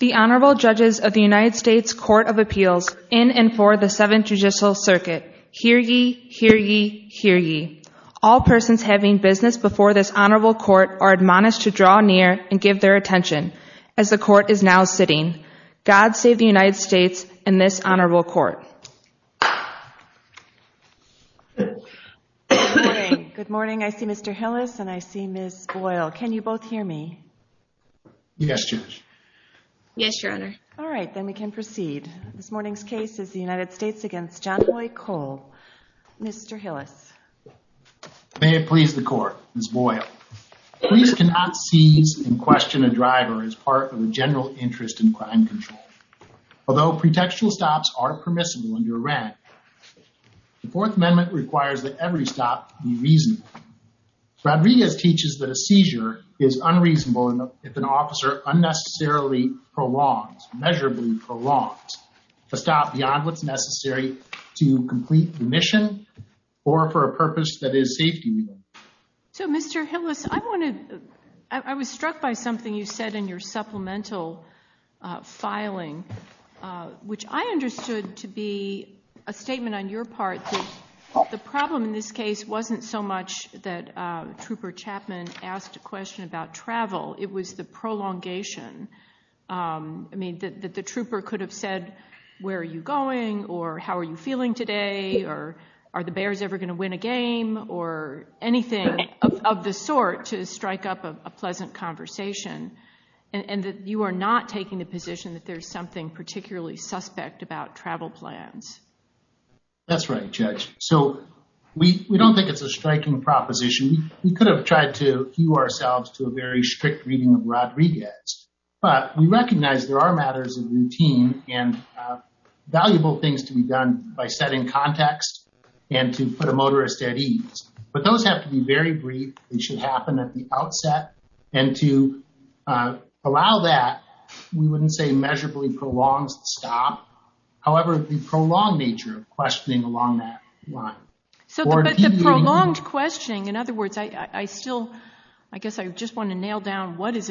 The Honorable Judges of the United States Court of Appeals in and for the Seventh Judicial Circuit, hear ye, hear ye, hear ye. All persons having business before this Honorable Court are admonished to draw near and give their attention, as the Court is now sitting. God save the United States and this Honorable Court. Good morning. I see Mr. Hillis and I see Ms. Boyle. Can you both hear me? Yes, Judge. Yes, Your Honor. All right, then we can proceed. This morning's case is the United States v. Janhoi Cole. Mr. Hillis. May it please the Court, Ms. Boyle. Police cannot seize and question a driver as part of a general interest in crime control. Although pretextual stops are permissible under WRAC, the Fourth Amendment requires that every stop be reasonable. Rodriguez teaches that a seizure is unreasonable if an officer unnecessarily prolongs, measurably prolongs, a stop beyond what's necessary to complete the mission or for a purpose that is safety-related. So, Mr. Hillis, I was struck by something you said in your supplemental filing, which I understood to be a statement on your part that the problem in this case wasn't so much that Trooper Chapman asked a question about travel, it was the prolongation. I mean, that the trooper could have said, where are you going? Or, how are you feeling today? Or, are the Bears ever going to win a game? Or anything of the sort to strike up a pleasant conversation? And that you are not taking the position that there's something particularly suspect about travel plans. That's right, Judge. So, we don't think it's a striking proposition. We could have tried to hew ourselves to a very strict reading of Rodriguez. But we recognize there are matters of routine and valuable things to be done by setting context and to put a motorist at ease. But those have to be very brief. They should happen at the outset. And to allow that, we wouldn't say measurably prolongs the stop. However, the prolonged nature of questioning along that line. But the prolonged questioning, in other words, I still, I guess I just want to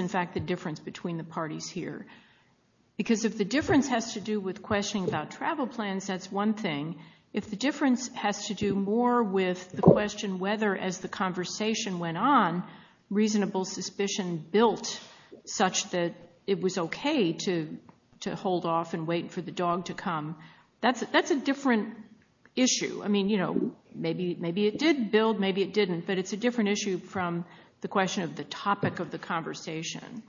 If the difference has to do with questioning about travel plans, that's one thing. If the difference has to do more with the question whether as the conversation went on, reasonable suspicion built such that it was okay to hold off and wait for the dog to come. That's a different issue. I mean, you know, maybe it did build, maybe it didn't. But it's a different issue from the question of the topic of the conversation.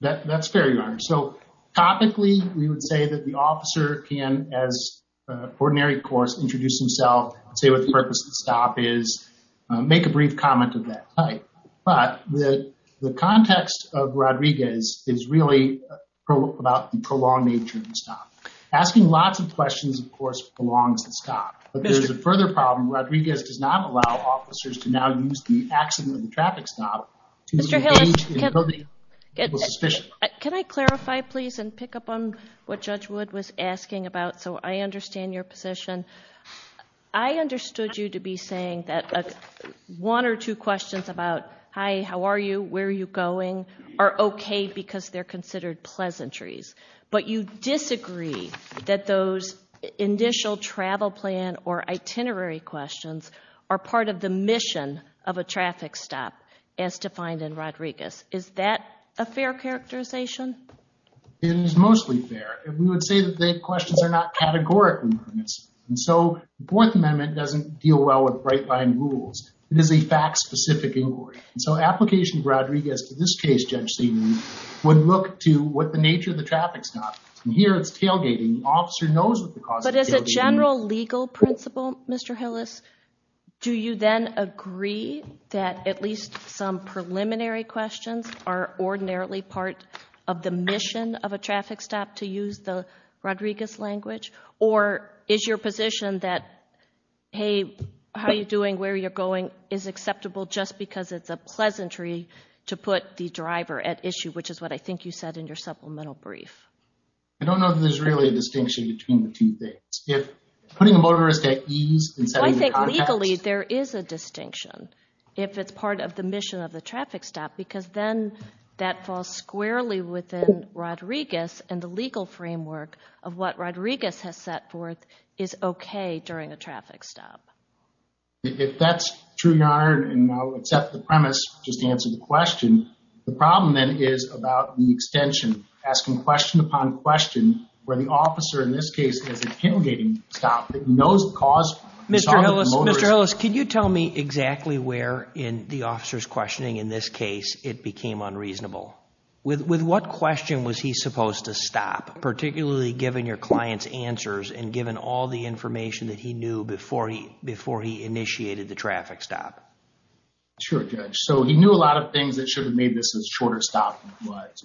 That's fair, Your Honor. So, topically, we would say that the officer can, as an ordinary course, introduce himself and say what the purpose of the stop is, make a brief comment of that type. But the context of Rodriguez is really about the prolonged nature of the stop. Asking lots of questions, of course, prolongs the stop. But there's a further problem. Rodriguez does not allow officers to now use the accident of the traffic stop to engage in public suspicion. Can I clarify, please, and pick up on what Judge Wood was asking about, so I understand your position. I understood you to be saying that one or two questions about, hi, how are you, where are you going, are okay because they're travel plan or itinerary questions are part of the mission of a traffic stop as defined in Rodriguez. Is that a fair characterization? It is mostly fair. We would say that the questions are not categorical. And so, the Fourth Amendment doesn't deal well with bright-line rules. It is a fact-specific inquiry. So, application of Rodriguez to this case, Judge Seidman, would look to what the nature of the traffic stop. And here it's tailgating. The officer knows what the general legal principle, Mr. Hillis. Do you then agree that at least some preliminary questions are ordinarily part of the mission of a traffic stop to use the Rodriguez language? Or is your position that, hey, how are you doing, where are you going, is acceptable just because it's a pleasantry to put the driver at issue, which is what I think you said in your supplemental brief? I don't know that there's really a distinction between the two things. If putting a motorist at ease and setting the context. I think legally there is a distinction if it's part of the mission of the traffic stop because then that falls squarely within Rodriguez and the legal framework of what Rodriguez has set forth is okay during a traffic stop. If that's true, Your Honor, and I'll accept the premise just to answer the question, the problem then is about the extension, asking question upon question where the officer in this case has a tailgating stop that knows the cause. Mr. Hillis, can you tell me exactly where in the officer's questioning in this case it became unreasonable? With what question was he supposed to stop, particularly given your client's answers and given all the information that he knew before he initiated the traffic stop? Sure, Judge. So he knew a lot of things that should have made this a shorter stop.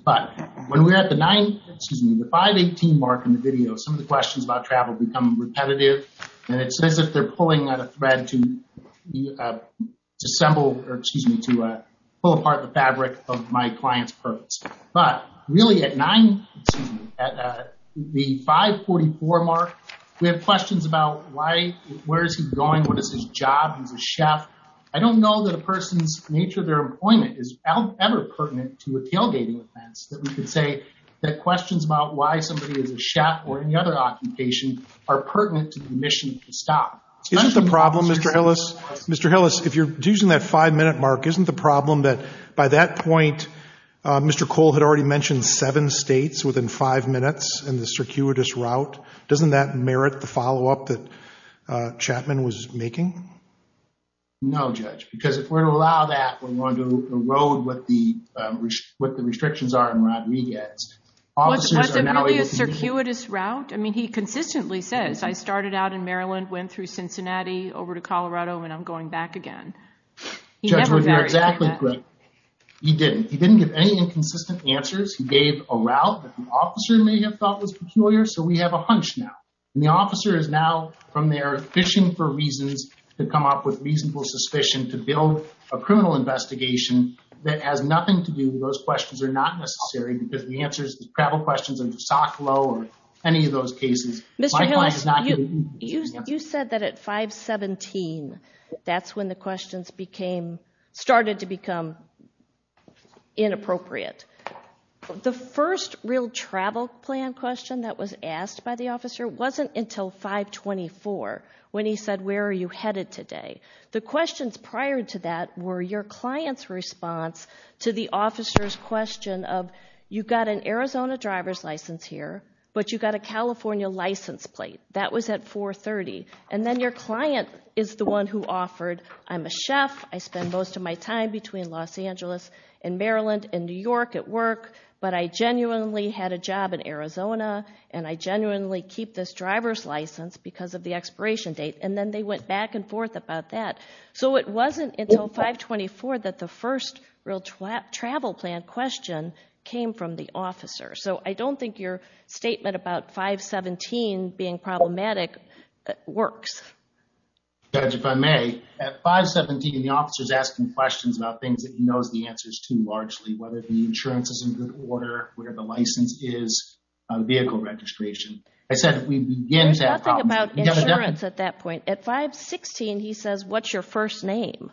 But when we're at the 518 mark in the video, some of the questions about travel become repetitive and it's as if they're pulling at a thread to pull apart the fabric of my client's purpose. But really at the 544 mark, we have questions about where is he going, what is his job, he's a chef. I don't know that a person's nature of their employment is ever pertinent to a tailgating offense that we could say that questions about why somebody is a chef or any other occupation are pertinent to the mission of the stop. Isn't the problem, Mr. Hillis, if you're using that five-minute mark, isn't the problem that by that point Mr. Cole had already mentioned seven states within five minutes in the circuitous route? Doesn't that merit the follow-up that Chapman was making? No, Judge, because if we're to allow that, we're going to erode what the restrictions are in Rodriguez. Was it really a circuitous route? I mean, he consistently says, I started out in Maryland, went through Cincinnati, over to Colorado, and I'm going back again. Judge, you're exactly correct. He didn't. He didn't give any inconsistent answers. He gave a route that an officer may have thought was peculiar, so we have a hunch now. And the officer is now from there fishing for reasons to come up with reasonable suspicion to build a criminal investigation that has nothing to do with those questions that are not necessary because the answers, the travel questions under SOCLO or any of those cases, my client has not given inconsistent answers. Mr. Hillis, you said that at 517, that's when the questions started to become inappropriate. The first real travel plan question that was asked by the officer wasn't until 524 when he said, where are you headed today? The questions prior to that were your client's response to the officer's question of, you got an Arizona driver's license here, but you got a California license plate. That was at 430. And then your client is the one who offered, I'm a chef, I spend most of my time between Los Angeles and Maryland and New York at work, but I genuinely had a job in Arizona and I genuinely keep this expiration date. And then they went back and forth about that. So it wasn't until 524 that the first real travel plan question came from the officer. So I don't think your statement about 517 being problematic works. Judge, if I may, at 517, the officer's asking questions about things that he knows the answers to largely, whether the insurance is in good order, where the license is, vehicle registration. There's nothing about insurance at that point. At 516, he says, what's your first name?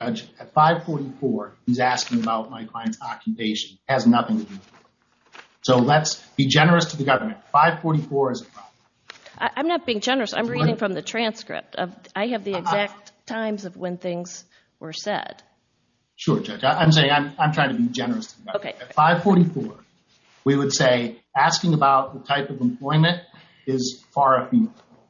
Judge, at 544, he's asking about my client's occupation. It has nothing to do with me. So let's be generous to the government. 544 is a problem. I'm not being generous. I'm reading from the transcript. I have the exact times of when things were said. Sure, Judge. I'm saying, I'm trying to be generous to the government. At 544, we would say asking about the type of employment is far off.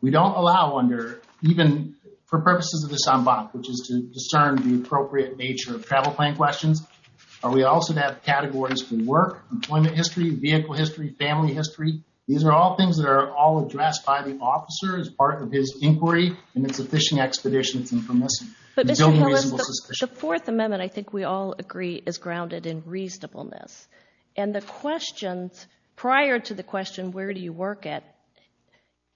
We don't allow under, even for purposes of this en banc, which is to discern the appropriate nature of travel plan questions, are we also to have categories for work, employment history, vehicle history, family history. These are all things that are all addressed by the officer as part of his inquiry and it's a fishing expedition. But Mr. Hillis, the Fourth Amendment, I think we all agree, is grounded in reasonableness. And the questions prior to the question, where do you work at?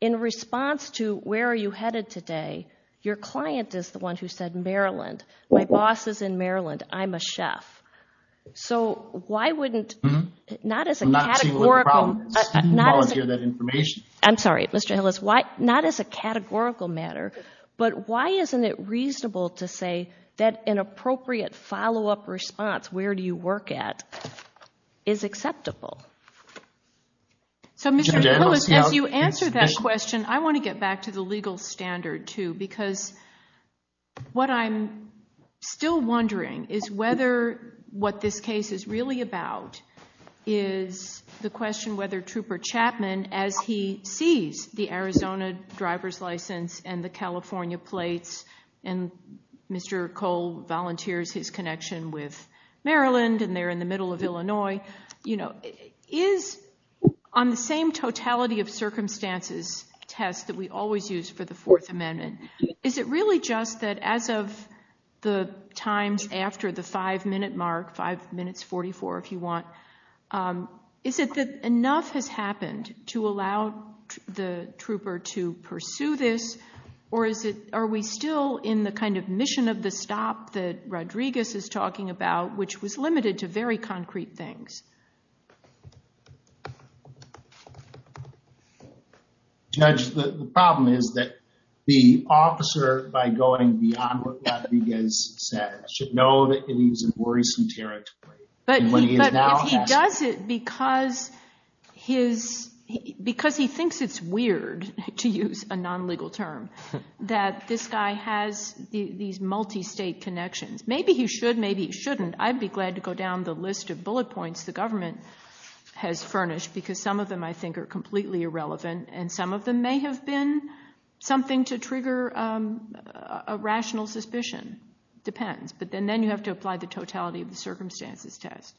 In response to where are you headed today? Your client is the one who said, Maryland. My boss is in Maryland. I'm a chef. So why wouldn't, not as a categorical, I'm sorry, Mr. Hillis, why not as a categorical matter, but why isn't it reasonable to say that an appropriate follow-up response, where do you work at, is acceptable? So Mr. Hillis, as you answer that question, I want to get back to the legal standard too because what I'm still wondering is whether what this case is really about is the question whether Trooper Chapman, as he sees the Arizona driver's license and the California plates and Mr. Cole volunteers his connection with Maryland and they're in the middle of Illinois, you know, is on the same totality of circumstances test that we always use for the Fourth Amendment, is it really just that as of the times after the five minute mark, five minutes, 44 if you want, is it that enough has happened to allow the trooper to pursue this or is it, are we still in the kind of mission of the stop that Rodriguez is talking about, which was limited to very concrete things? Judge, the problem is that the officer, by going beyond what Rodriguez said, should know that he's in worrisome territory. But if he does it because he thinks it's weird to use a non-legal term, that this guy has these multi-state connections, maybe he should, maybe he shouldn't, I'd be glad to go down the list of bullet points the government has furnished because some of them I think are completely irrelevant and some of them may have been something to trigger a rational suspicion. Depends. But then you have to apply the totality of the circumstances test.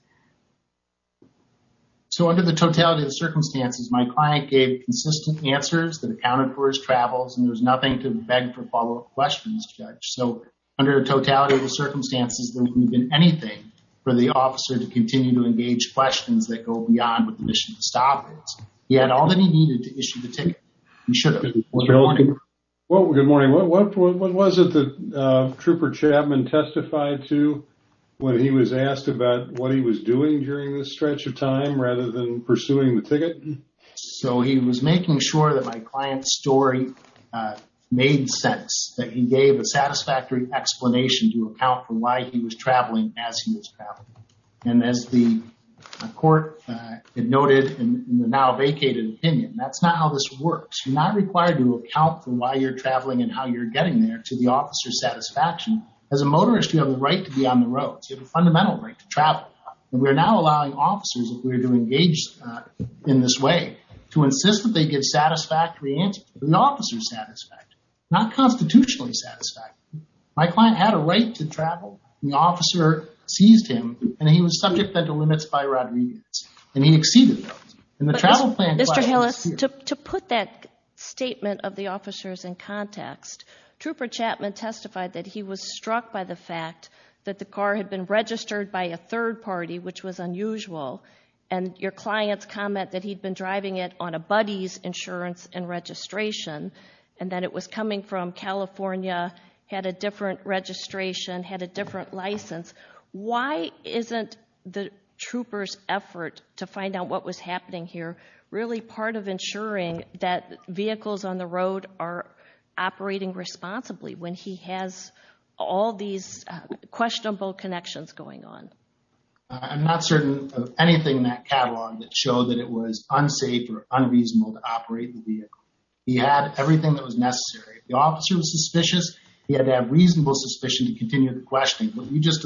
So under the totality of the circumstances, my client gave consistent answers that accounted for his travels and there was nothing to beg for follow-up questions, Judge. So under a totality of the circumstances, there wouldn't have been anything for the officer to continue to engage questions that go beyond what the mission of the stop is. He had all that he needed to issue the ticket. Did Trooper Chapman testify to when he was asked about what he was doing during this stretch of time rather than pursuing the ticket? So he was making sure that my client's story made sense, that he gave a satisfactory explanation to account for why he was traveling as he was traveling. And as the court had noted in the now vacated opinion, that's not how this works. You're not required to account for why you're traveling and how you're getting there to the officer's satisfaction. As a motorist, you have the right to be on the roads. You have a fundamental right to travel. We're now allowing officers, if we were to engage in this way, to insist that they give satisfactory answers. The officer's satisfied, not constitutionally satisfied. My client had a right to travel. The officer seized him and he was subject then to limits by Rodriguez and he exceeded those. And the travel plan... To put that statement of the officers in context, Trooper Chapman testified that he was struck by the fact that the car had been registered by a third party, which was unusual. And your client's comment that he'd been driving it on a buddy's insurance and registration and that it was coming from California, had a different registration, had a different license. Why isn't the trooper's really part of ensuring that vehicles on the road are operating responsibly when he has all these questionable connections going on? I'm not certain of anything in that catalog that showed that it was unsafe or unreasonable to operate the vehicle. He had everything that was necessary. If the officer was suspicious, he had to have reasonable suspicion to continue the questioning. What you just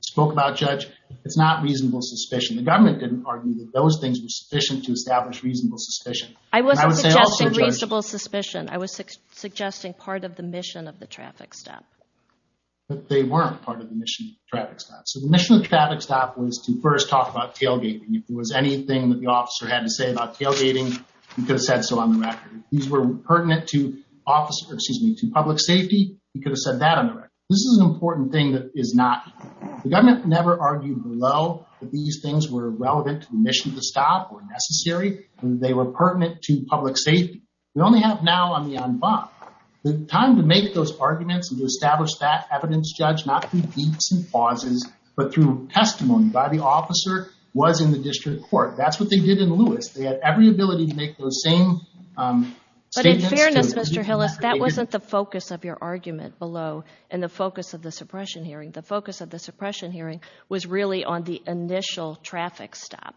spoke about, Judge, it's not reasonable suspicion. The government didn't argue that those things were sufficient to establish reasonable suspicion. I wasn't suggesting reasonable suspicion. I was suggesting part of the mission of the traffic stop. But they weren't part of the mission of the traffic stop. So the mission of the traffic stop was to first talk about tailgating. If there was anything that the officer had to say about tailgating, he could have said so on the record. If these were pertinent to public safety, he could have said that on the record. This is an important thing that is not... The government never argued below that these things were relevant to the mission of the stop or necessary. They were pertinent to public safety. We only have now on the en banc the time to make those arguments and to establish that evidence, Judge, not through beats and pauses, but through testimony by the officer was in the district court. That's what they did in Lewis. They had every ability to make those same statements. But in fairness, Mr. Hillis, that wasn't the suppression hearing. The focus of the suppression hearing was really on the initial traffic stop.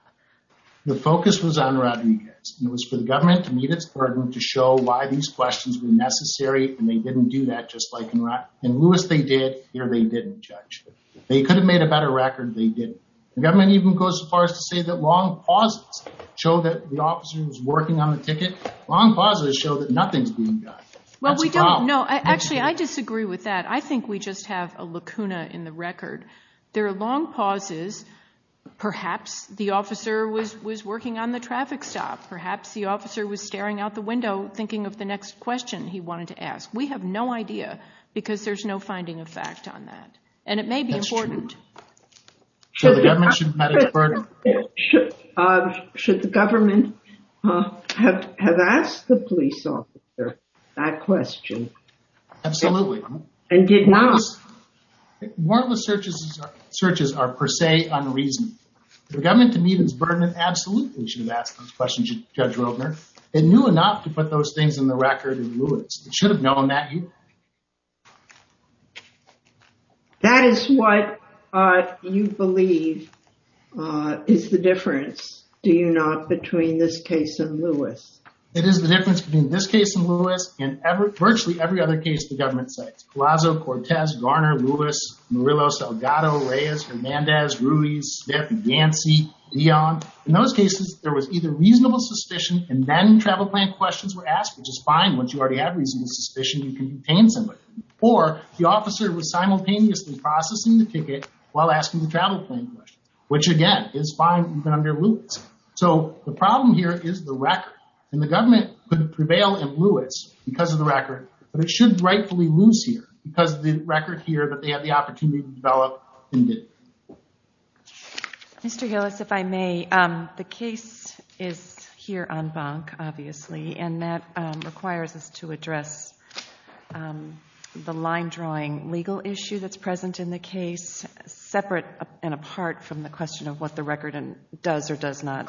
The focus was on Rodriguez. It was for the government to meet its burden, to show why these questions were necessary. And they didn't do that just like in Lewis. In Lewis, they did. Here, they didn't, Judge. They could have made a better record. They didn't. The government even goes as far as to say that long pauses show that the officer was working on the ticket. Long pauses show that nothing's being done. Well, we don't know. Actually, I disagree with that. I think we just have a lacuna in the record. There are long pauses. Perhaps the officer was working on the traffic stop. Perhaps the officer was staring out the window thinking of the next question he wanted to ask. We have no idea because there's no finding of fact on that. And it may be important. That's true. Should the government have asked the police officer that question? Absolutely. And did not. More of the searches are per se unreasoned. The government to meet its burden, it absolutely should have asked those questions to Judge Roedner. It knew enough to put those things in the record in Lewis. It should have known that. That is what you believe is the difference, do you not, between this case and Lewis? It is the difference between this case and Lewis and virtually every other case the government cites. Colasso, Cortez, Garner, Lewis, Murillo, Salgado, Reyes, Hernandez, Ruiz, Smith, Yancey, Leon. In those cases, there was either reasonable suspicion and then travel plan questions were asked, which is fine. Once you already have reasonable suspicion, you can be painstaking. Or the officer was simultaneously processing the ticket while asking the travel plan question, which again is fine even under Lewis. So the problem here is the record. And the government could prevail in Lewis because of the record, but it should rightfully lose here because of the record here that they had the opportunity to develop and did. Mr. Gillis, if I may, the case is here on bank, obviously, and that requires us to address the line drawing legal issue that's question of what the record does or does not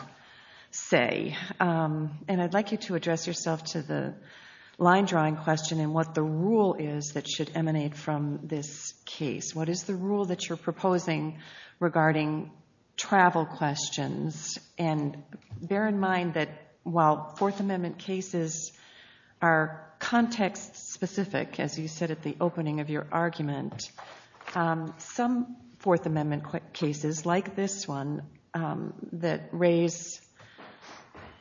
say. And I'd like you to address yourself to the line drawing question and what the rule is that should emanate from this case. What is the rule that you're proposing regarding travel questions? And bear in mind that while Fourth Amendment cases are context specific, as you said at the opening of your argument, some Fourth Amendment cases, like this one, that raise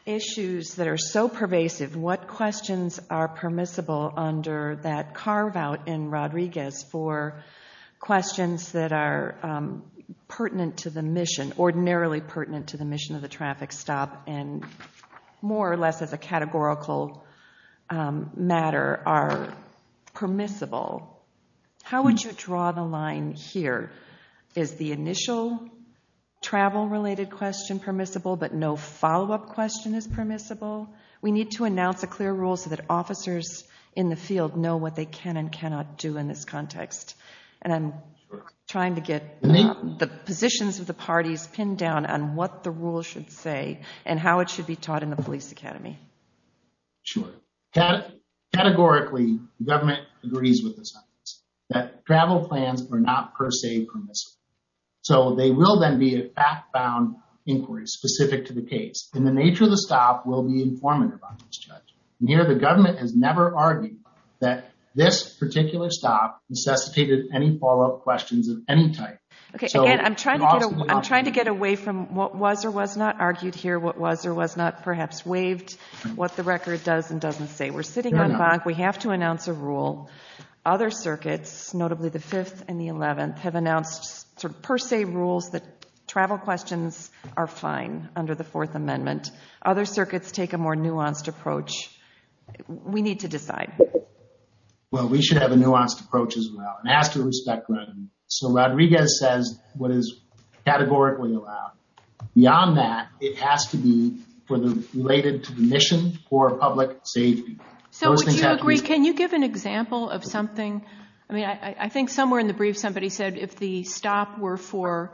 issues that are so pervasive, what questions are permissible under that carve out in Rodriguez for questions that are pertinent to the mission, ordinarily pertinent to the mission of the traffic stop and more or less as a categorical matter are permissible? How would you draw the line here? Is the initial travel-related question permissible, but no follow-up question is permissible? We need to announce a clear rule so that officers in the field know what they can and cannot do in this context. And I'm trying to get the positions of the parties pinned down on what the rule should say and how it should be taught in the sentence. That travel plans are not per se permissible. So they will then be a fact-bound inquiry specific to the case. And the nature of the stop will be informative on this judge. And here the government has never argued that this particular stop necessitated any follow-up questions of any type. Okay, and I'm trying to get away from what was or was not argued here, what was or was not perhaps waived, what the record does and doesn't say. We're sitting on we have to announce a rule. Other circuits, notably the 5th and the 11th, have announced sort of per se rules that travel questions are fine under the Fourth Amendment. Other circuits take a more nuanced approach. We need to decide. Well, we should have a nuanced approach as well and ask to respect them. So Rodriguez says what is categorically allowed. Beyond that, it has to be related to the mission for public safety. So would you agree, can you give an example of something? I mean, I think somewhere in the brief somebody said if the stop were for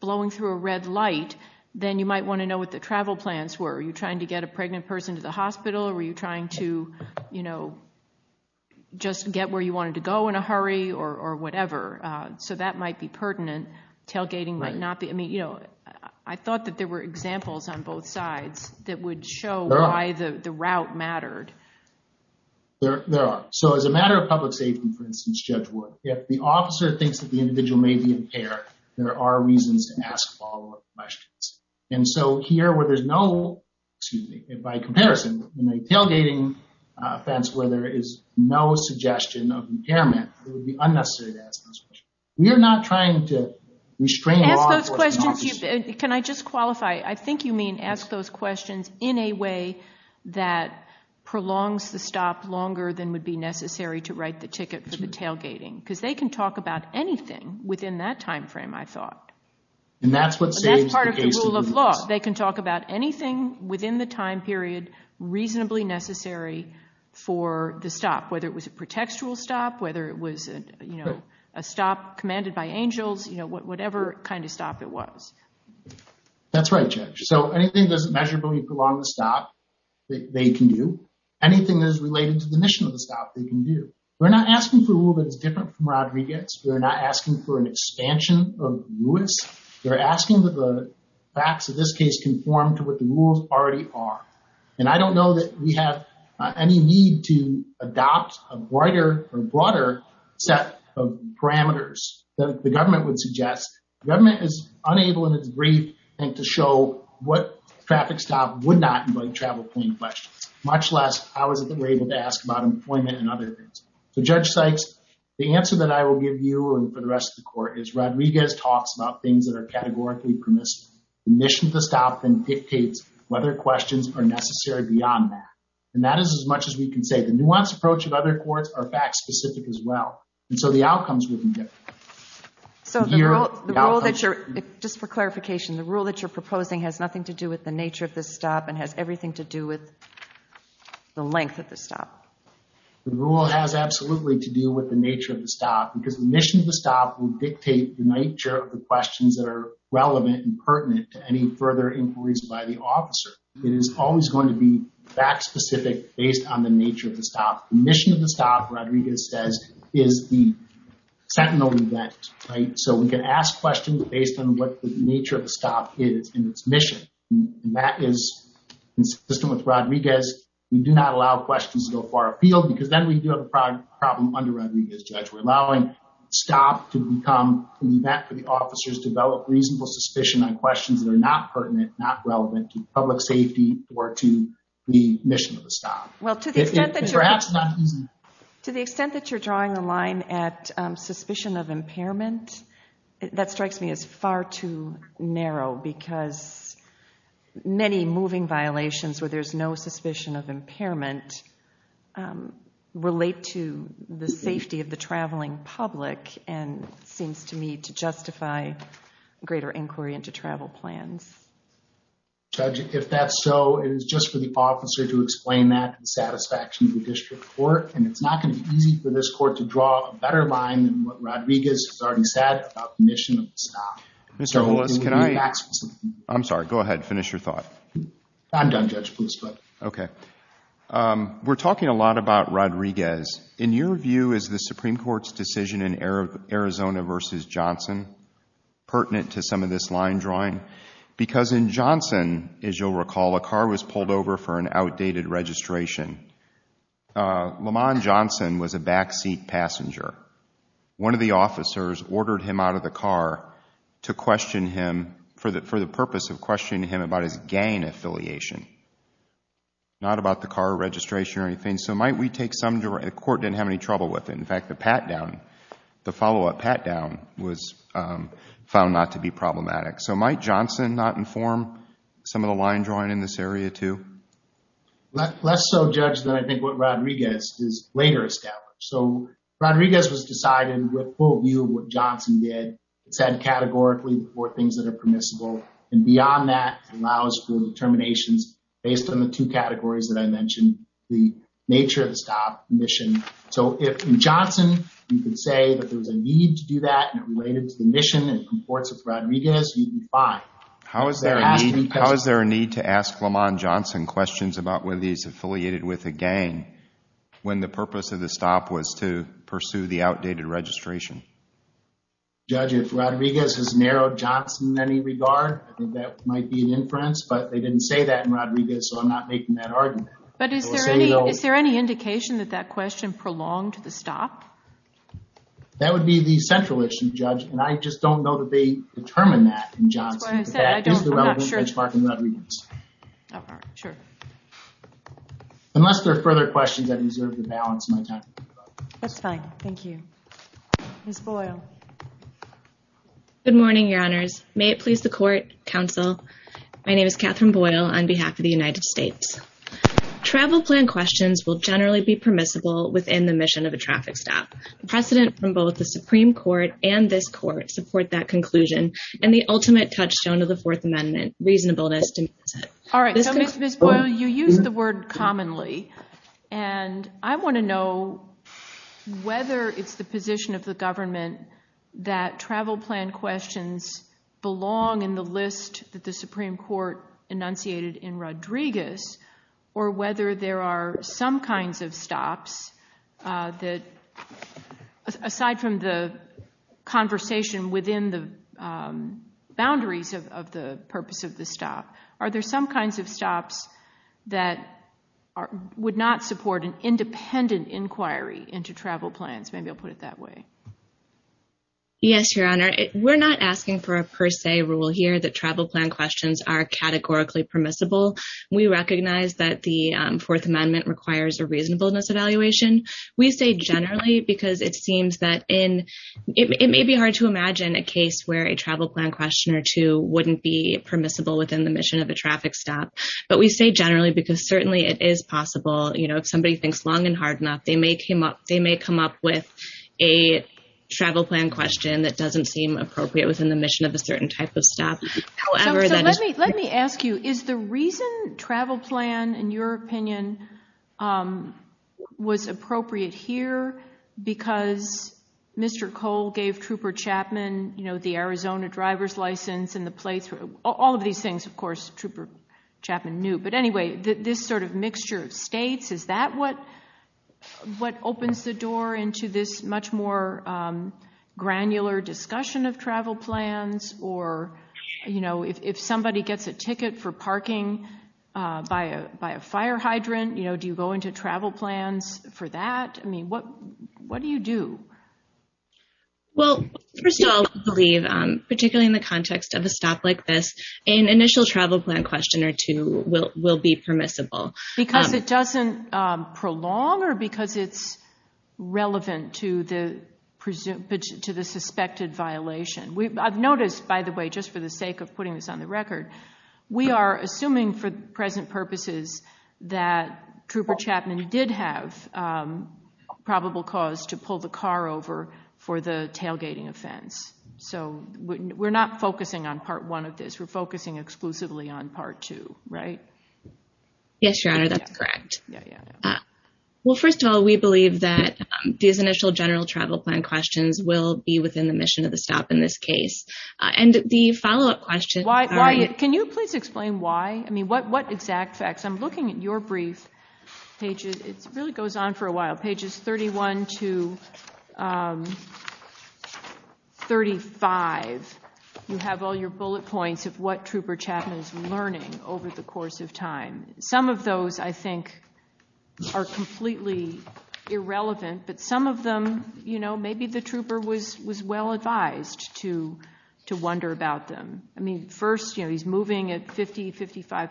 blowing through a red light, then you might want to know what the travel plans were. Are you trying to get a pregnant person to the hospital? Or were you trying to, you know, just get where you wanted to go in a hurry or whatever? So that might be pertinent. Tailgating might not be. I mean, on both sides that would show why the route mattered. There are. So as a matter of public safety, for instance, Judge Wood, if the officer thinks that the individual may be impaired, there are reasons to ask follow up questions. And so here where there's no, excuse me, by comparison, in a tailgating offense where there is no suggestion of impairment, it would be unnecessary to ask those questions. We are not trying to restrain those questions. Can I just qualify? I think you mean ask those questions in a way that prolongs the stop longer than would be necessary to write the ticket for the tailgating. Because they can talk about anything within that time frame, I thought. And that's what saves the rule of law. They can talk about anything within the time period reasonably necessary for the stop, whether it was a pretextual stop, whether it was, you know, a stop commanded by angels, you know, whatever kind of stop it was. That's right, Judge. So anything that doesn't measurably prolong the stop, they can do. Anything that is related to the mission of the stop, they can do. We're not asking for a rule that's different from Rodriguez. We're not asking for an expansion of Lewis. We're asking that the facts of this case conform to what the rules already are. And I don't know that we have any need to adopt a brighter or broader set of parameters that the government is unable in its brief to show what traffic stop would not invite travel point questions, much less how is it that we're able to ask about employment and other things. So, Judge Sykes, the answer that I will give you and for the rest of the court is Rodriguez talks about things that are categorically permissible. The mission of the stop then dictates whether questions are necessary beyond that. And that is as much as we can say. The nuanced approach of other courts are fact specific as well. And so the outcomes will be different. So the rule that you're, just for clarification, the rule that you're proposing has nothing to do with the nature of this stop and has everything to do with the length of the stop. The rule has absolutely to do with the nature of the stop because the mission of the stop will dictate the nature of the questions that are relevant and pertinent to any further inquiries by the officer. It is always going to be fact specific based on the nature of the stop. The mission of the stop, Rodriguez says, is the sentinel event, right? So we can ask questions based on what the nature of the stop is in its mission. And that is consistent with Rodriguez. We do not allow questions to go far afield because then we do have a problem under Rodriguez, Judge. We're allowing stop to become an event for the officers to develop reasonable suspicion on questions that are not pertinent, not relevant to public safety or to the mission of the stop. To the extent that you're drawing the line at suspicion of impairment, that strikes me as far too narrow because many moving violations where there's no suspicion of impairment relate to the safety of the traveling public and seems to me to justify greater inquiry into travel plans. Judge, if that's so, it is just for the officer to explain that in satisfaction of the district court and it's not going to be easy for this court to draw a better line than what Rodriguez has already said about the mission of the stop. Mr. Willis, can I... I'm sorry, go ahead, finish your thought. I'm done, Judge, please go ahead. Okay. We're talking a lot about Rodriguez. In your view, is the Supreme Court's decision in Arizona versus Johnson pertinent to some of this line drawing? Because in Johnson, as you'll recall, a car was pulled over for an outdated registration. Lamon Johnson was a backseat passenger. One of the officers ordered him out of the car to question him for the purpose of questioning him about his gang affiliation, not about the car registration or anything. So might we take the court didn't have any trouble with it. In fact, the pat-down, the follow-up pat-down was found not to be problematic. So might Johnson not inform some of the line drawing in this area too? Less so, Judge, than I think what Rodriguez is later established. So Rodriguez was decided with full view of what Johnson did. It said categorically the four things that are permissible and beyond that allows for determinations based on the two categories that I mentioned, the nature of the stop mission. So if in Johnson, you could say that there was a need to do that and it related to the mission and comports of Rodriguez, you'd be fine. How is there a need to ask Lamon Johnson questions about whether he's affiliated with a gang when the purpose of the stop was to pursue the outdated registration? Judge, if Rodriguez has narrowed Johnson in any regard, I think that might be an inference, but they didn't say that in Rodriguez. So I'm not making that argument. But is there any indication that that question prolonged the stop? That would be the central issue, Judge, and I just don't know that they determined that in Johnson, but that is the relevant benchmark in Rodriguez. Unless there are further questions, I deserve to balance my time. That's fine. Thank you. Ms. Boyle. Good morning, your honors. May it please the court, counsel. My name is Catherine Boyle on behalf of the United States. Travel plan questions will generally be permissible within the mission of a traffic stop. Precedent from both the Supreme Court and this court support that conclusion and the ultimate touchstone of the Fourth Amendment, reasonableness. All right, so Ms. Boyle, you use the word commonly, and I want to know whether it's the position of the government that travel plan questions belong in the list that the Supreme Court enunciated in Rodriguez, or whether there are some kinds of stops that, aside from the conversation within the boundaries of the purpose of the stop, are there some kinds of stops that would not support an independent inquiry into travel plans? Maybe I'll put it that way. Yes, your honor. We're not asking for a per se rule here that travel plan questions are categorically permissible. We recognize that the Fourth Amendment requires a reasonableness evaluation. We say generally because it may be hard to imagine a case where a travel plan question or two wouldn't be permissible within the mission of a traffic stop, but we say generally because certainly it is possible. If somebody thinks long and hard enough, they may come up with a travel plan question that doesn't seem appropriate within the mission of a certain type of stop. Let me ask you, is the reason travel plan, in your opinion, was appropriate here because Mr. Cole gave Trooper Chapman the Arizona driver's license and the playthrough? All of these things, of course, Trooper Chapman knew, but anyway, this sort of mixture of states, is that what opens the door into this much more granular discussion of travel plans? Or if somebody gets a ticket for parking by a fire hydrant, do you go into travel plans for that? What do you do? Well, first of all, I believe, particularly in the context of a stop like this, an initial travel plan question or two will be permissible. Because it doesn't prolong or because it's relevant to the suspected violation? I've noticed, by the way, just for the sake of putting this on the record, we are assuming for present purposes that Trooper Chapman did have probable cause to pull the car over for the tailgating offense. So we're not focusing on part one of this. We're focusing exclusively on part two, right? Yes, Your Honor, that's correct. Well, first of all, we believe that these initial general travel plan questions will be within the mission of the stop in this case. And the follow-up question... Why? Can you please explain why? I mean, what exact facts? I'm looking at your brief. It really goes on for a while. Pages 31 to 35, you have all your bullet points of what Trooper Chapman is learning over the course of time. Some of those, I think, are completely irrelevant. But some of them, you know, maybe the trooper was well advised to wonder about them. I think this Interstate 55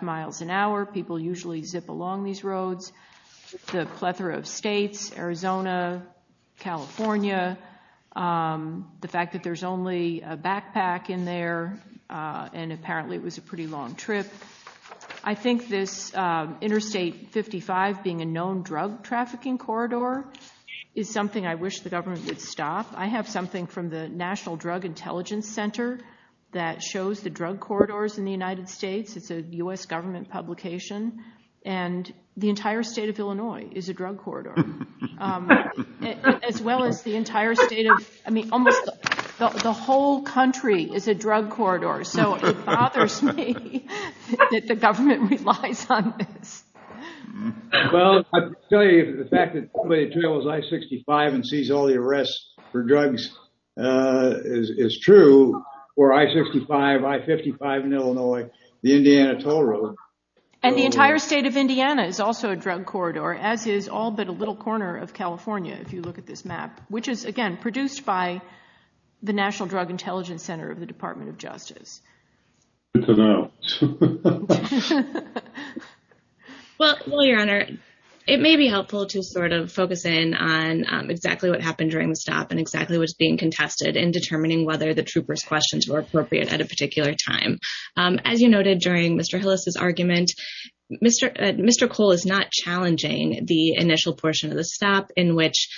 being a known drug trafficking corridor is something I wish the government would stop. I have something from the National Drug Intelligence Center that shows the and the entire state of Illinois is a drug corridor, as well as the entire state of... I mean, almost the whole country is a drug corridor. So it bothers me that the government relies on this. Well, I'll tell you the fact that somebody trails I-65 and sees all the arrests for drugs is true for I-65, I-55 in Illinois, the Indiana toll road. And the entire state of Indiana is also a drug corridor, as is all but a little corner of California, if you look at this map, which is, again, produced by the National Drug Intelligence Center of the Department of Justice. Well, your honor, it may be helpful to sort of focus in on exactly what happened during the stop and exactly what's being contested in determining whether the trooper's questions were appropriate at a particular time. As you noted during Mr. Hillis' argument, Mr. Cole is not challenging the initial portion of the stop in which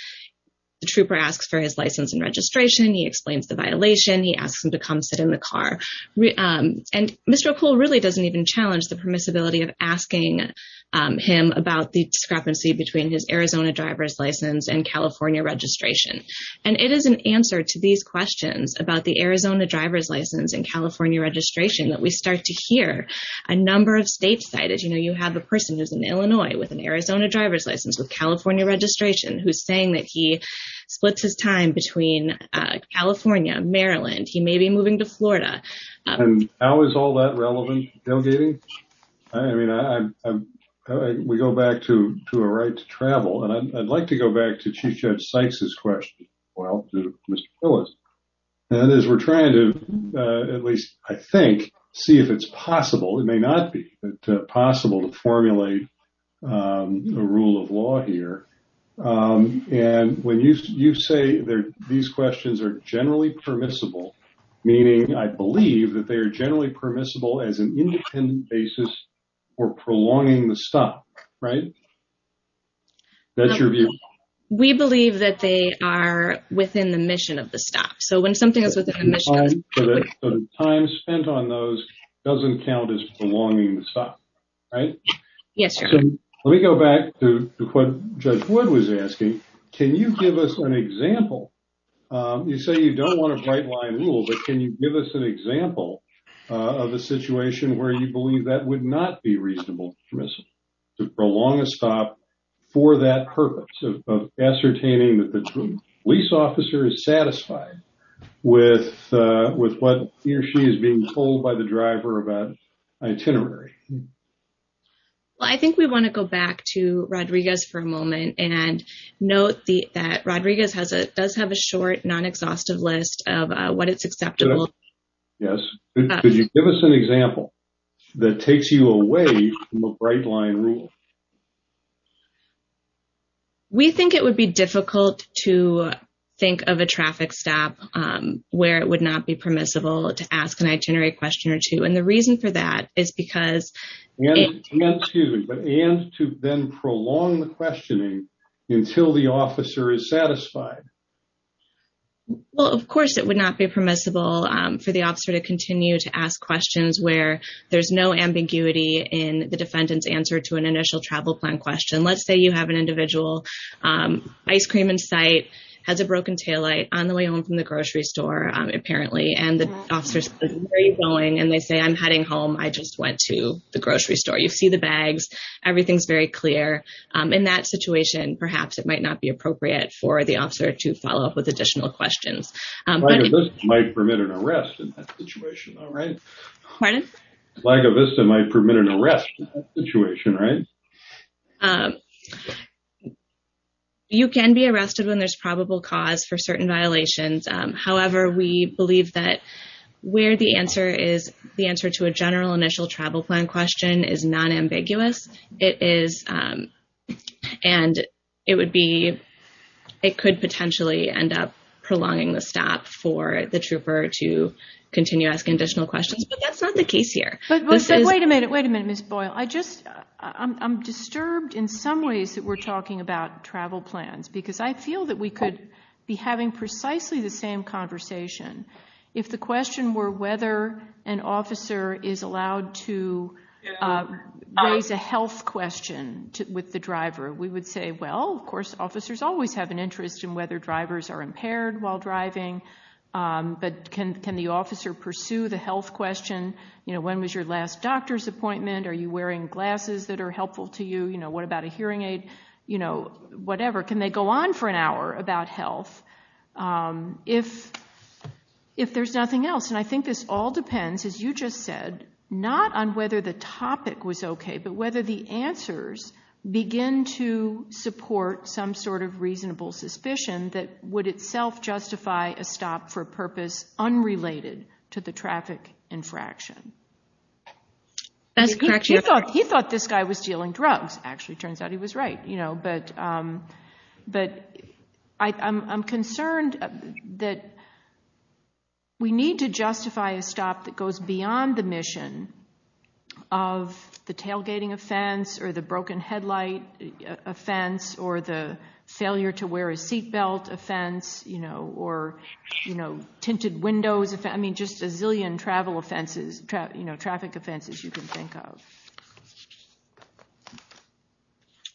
the trooper asks for his license and registration, he explains the violation, he asks him to come sit in the car. And Mr. Cole really doesn't even challenge the permissibility of asking him about the discrepancy between his Arizona driver's license and California registration. And it is an answer to these questions about the Arizona driver's license and California registration that we start to hear a number of states say that, you know, you have a person who's in Illinois with an Arizona driver's license with California registration who's saying that he splits his time between California, Maryland, he may be moving to Florida. And how is all that relevant, Dale Deating? I mean, I'm, we go back to a right to travel. And I'd like to go back to Chief Judge Sykes' question, well, to Mr. Hillis. And as we're trying to, at least, I think, see if it's possible, it may not be possible to formulate a rule of law here. And when you say these questions are generally permissible, meaning I believe that they are generally permissible as an independent basis for prolonging the stop, right? That's your view? We believe that they are within the mission of the stop. So when something is within the time spent on those doesn't count as prolonging the stop, right? Yes, sir. Let me go back to what Judge Wood was asking. Can you give us an example? You say you don't want a bright line rule, but can you give us an example of a situation where you believe that would not be reasonable permissible to prolong a stop for that purpose of ascertaining that the police officer is satisfied with what he or she is being told by the driver of that itinerary? Well, I think we want to go back to Rodriguez for a moment and note that Rodriguez does have a short non-exhaustive list of what is acceptable. Yes. Could you give us an example that takes you away from a bright line rule? We think it would be difficult to think of a traffic stop where it would not be permissible to ask an itinerary question or two. And the reason for that is because... And to then prolong the questioning until the officer is satisfied. Well, of course, it would not be permissible for the officer to continue to ask questions where there's no ambiguity in the defendant's answer to an initial travel plan question. Let's say you have an individual, ice cream in sight, has a broken taillight on the way home from the grocery store, apparently, and the officer says, where are you going? And they say, I'm heading home, I just went to the grocery store. You see the bags, everything's very clear. In that situation, perhaps it might not be appropriate for the officer to follow up with additional questions. You can be arrested when there's probable cause for certain violations. However, we believe that where the answer is, the answer to a general initial travel plan question is non-ambiguous, and it could potentially end up prolonging the stop for the trooper to continue asking additional questions. But that's not the case here. Wait a minute, wait a minute, Ms. Boyle. I'm disturbed in some ways that we're talking about travel plans, because I feel that we could be having precisely the same conversation if the question were whether an officer is allowed to raise a health question with the driver. We would say, well, of course, officers always have an interest in whether drivers are impaired while driving, but can the officer pursue the health question? When was your last doctor's appointment? Are you wearing glasses that are helpful to you? What about a hearing aid? Whatever. Can they go on for an hour about health if there's nothing else? I think this all depends, as you just said, not on whether the topic was okay, but whether the answers begin to support some sort of reasonable suspicion that would itself justify a stop for purpose unrelated to the traffic infraction. He thought this guy was dealing drugs, actually. Turns out he was right. But I'm concerned that we need to justify a stop that goes beyond the mission of the tailgating offense, or the broken headlight offense, or the failure to wear a seat belt offense, or tinted windows offense. I mean, just a zillion traffic offenses you can think of.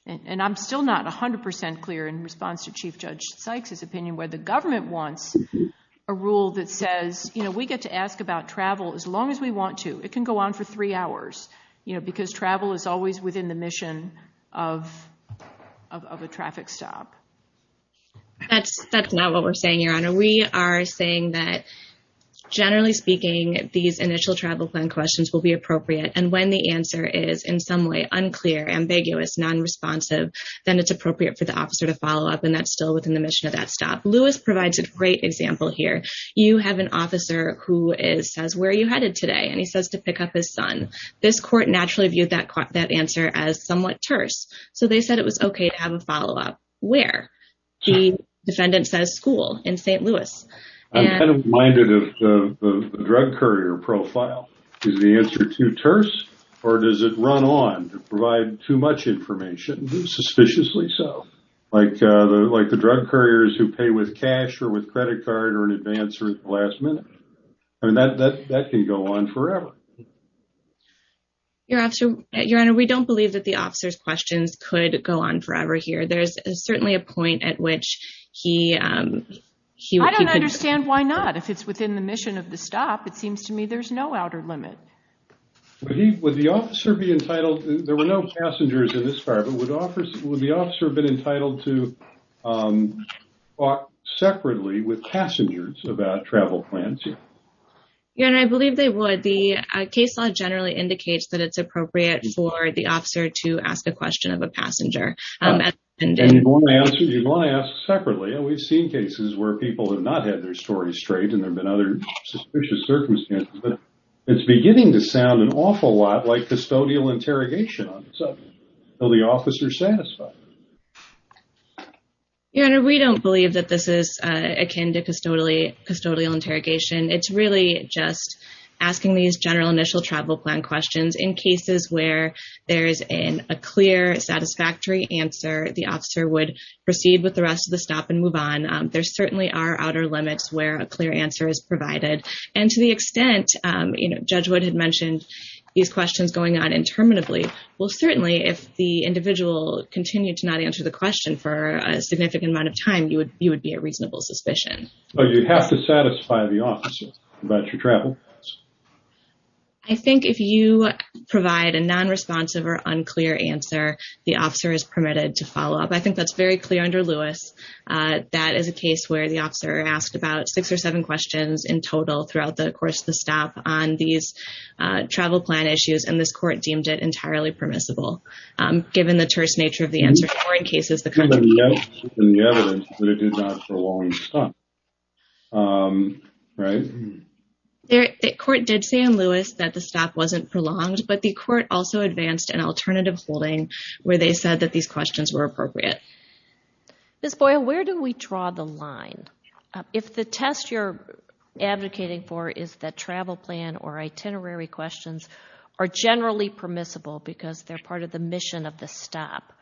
And I'm still not 100% clear in response to Chief Judge Sykes' opinion where the government wants a rule that says, you know, we get to ask about travel as long as we want to. It can go on for three hours, you know, because travel is always within the mission of a traffic stop. That's not what we're saying, Your Honor. We are saying that, generally speaking, these initial travel plan questions will be appropriate. And when the answer is, in some way, unclear, ambiguous, non-responsive, then it's appropriate for the officer to follow up. And that's still within the mission of that stop. Lewis provides a great example here. You have an officer who says, where are you headed today? And he says to pick up his son. This court naturally viewed that answer as somewhat terse. So they said it was okay to have a follow-up. Where? The defendant says school in St. Louis. I'm kind of reminded of the drug courier profile. Is the answer too terse? Or does it run on to provide too much information, suspiciously so? Like the drug couriers who pay with cash or with credit card or in advance or last minute. I mean, that can go on forever. Your Honor, we don't believe that the officer's questions could go on forever here. There's certainly a point at which he... Why not? If it's within the mission of the stop, it seems to me there's no outer limit. Would the officer be entitled... There were no passengers in this fire, but would the officer have been entitled to talk separately with passengers about travel plans? Your Honor, I believe they would. The case law generally indicates that it's appropriate for the officer to ask a question of a passenger. And you'd want to ask separately. And we've seen cases where people have not had their stories straight and there've been other suspicious circumstances. But it's beginning to sound an awful lot like custodial interrogation on itself. Will the officer satisfy? Your Honor, we don't believe that this is akin to custodial interrogation. It's really just asking these general initial travel plan questions in cases where there is a clear satisfactory answer. The officer would proceed with the rest of the interrogation. There certainly are outer limits where a clear answer is provided. And to the extent Judge Wood had mentioned these questions going on interminably, well certainly if the individual continued to not answer the question for a significant amount of time, you would be a reasonable suspicion. But you'd have to satisfy the officer about your travel? I think if you provide a non-responsive or unclear answer, the officer is permitted to follow up. I believe that is a case where the officer asked about six or seven questions in total throughout the course of the stop on these travel plan issues. And this court deemed it entirely permissible given the terse nature of the answer. The court did say in Lewis that the stop wasn't prolonged, but the court also advanced an alternative holding where they said that these questions were appropriate. Ms. Boyle, where do we draw the line? If the test you're advocating for is that travel plan or itinerary questions are generally permissible because they're part of the mission of the stop,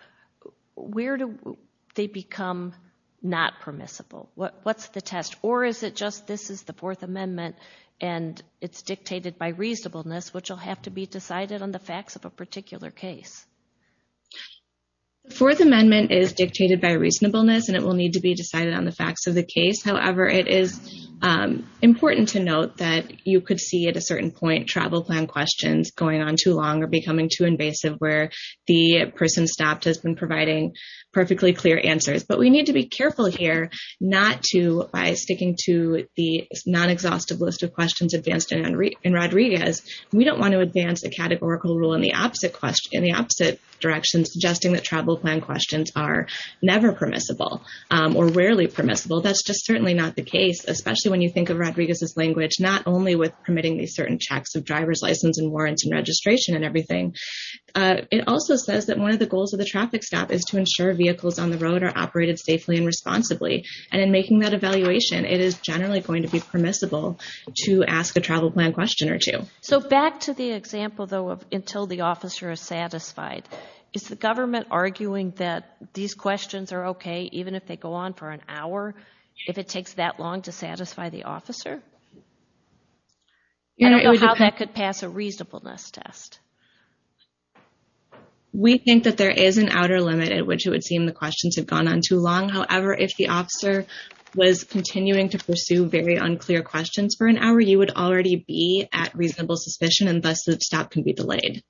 where do they become not permissible? What's the test? Or is it just this is the Fourth Amendment and it's dictated by reasonableness, which will have to be decided on the facts of a particular case? The Fourth Amendment is dictated by reasonableness and it will need to be decided on the facts of the case. However, it is important to note that you could see at a certain point travel plan questions going on too long or becoming too invasive where the person stopped has been providing perfectly clear answers. But we need to be careful here not to, by sticking to the non-exhaustive list of questions advanced in Rodriguez, we don't want to advance a categorical rule in the opposite direction suggesting that travel plan questions are never permissible or rarely permissible. That's just certainly not the case, especially when you think of Rodriguez's language, not only with permitting these certain checks of driver's license and warrants and registration and everything. It also says that one of the goals of the traffic stop is to ensure vehicles on the road are operated safely and responsibly. And in making that evaluation, it is generally going to be permissible to ask a travel plan question or two. So back to the example though of until the officer is satisfied, is the government arguing that these questions are okay even if they go on for an hour, if it takes that long to satisfy the officer? I don't know how that could pass a reasonableness test. We think that there is an outer limit at which it would seem the questions have gone on too long. However, if the officer was continuing to pursue very unclear questions for an hour, you would already be at reasonable suspicion and thus the stop can be delayed.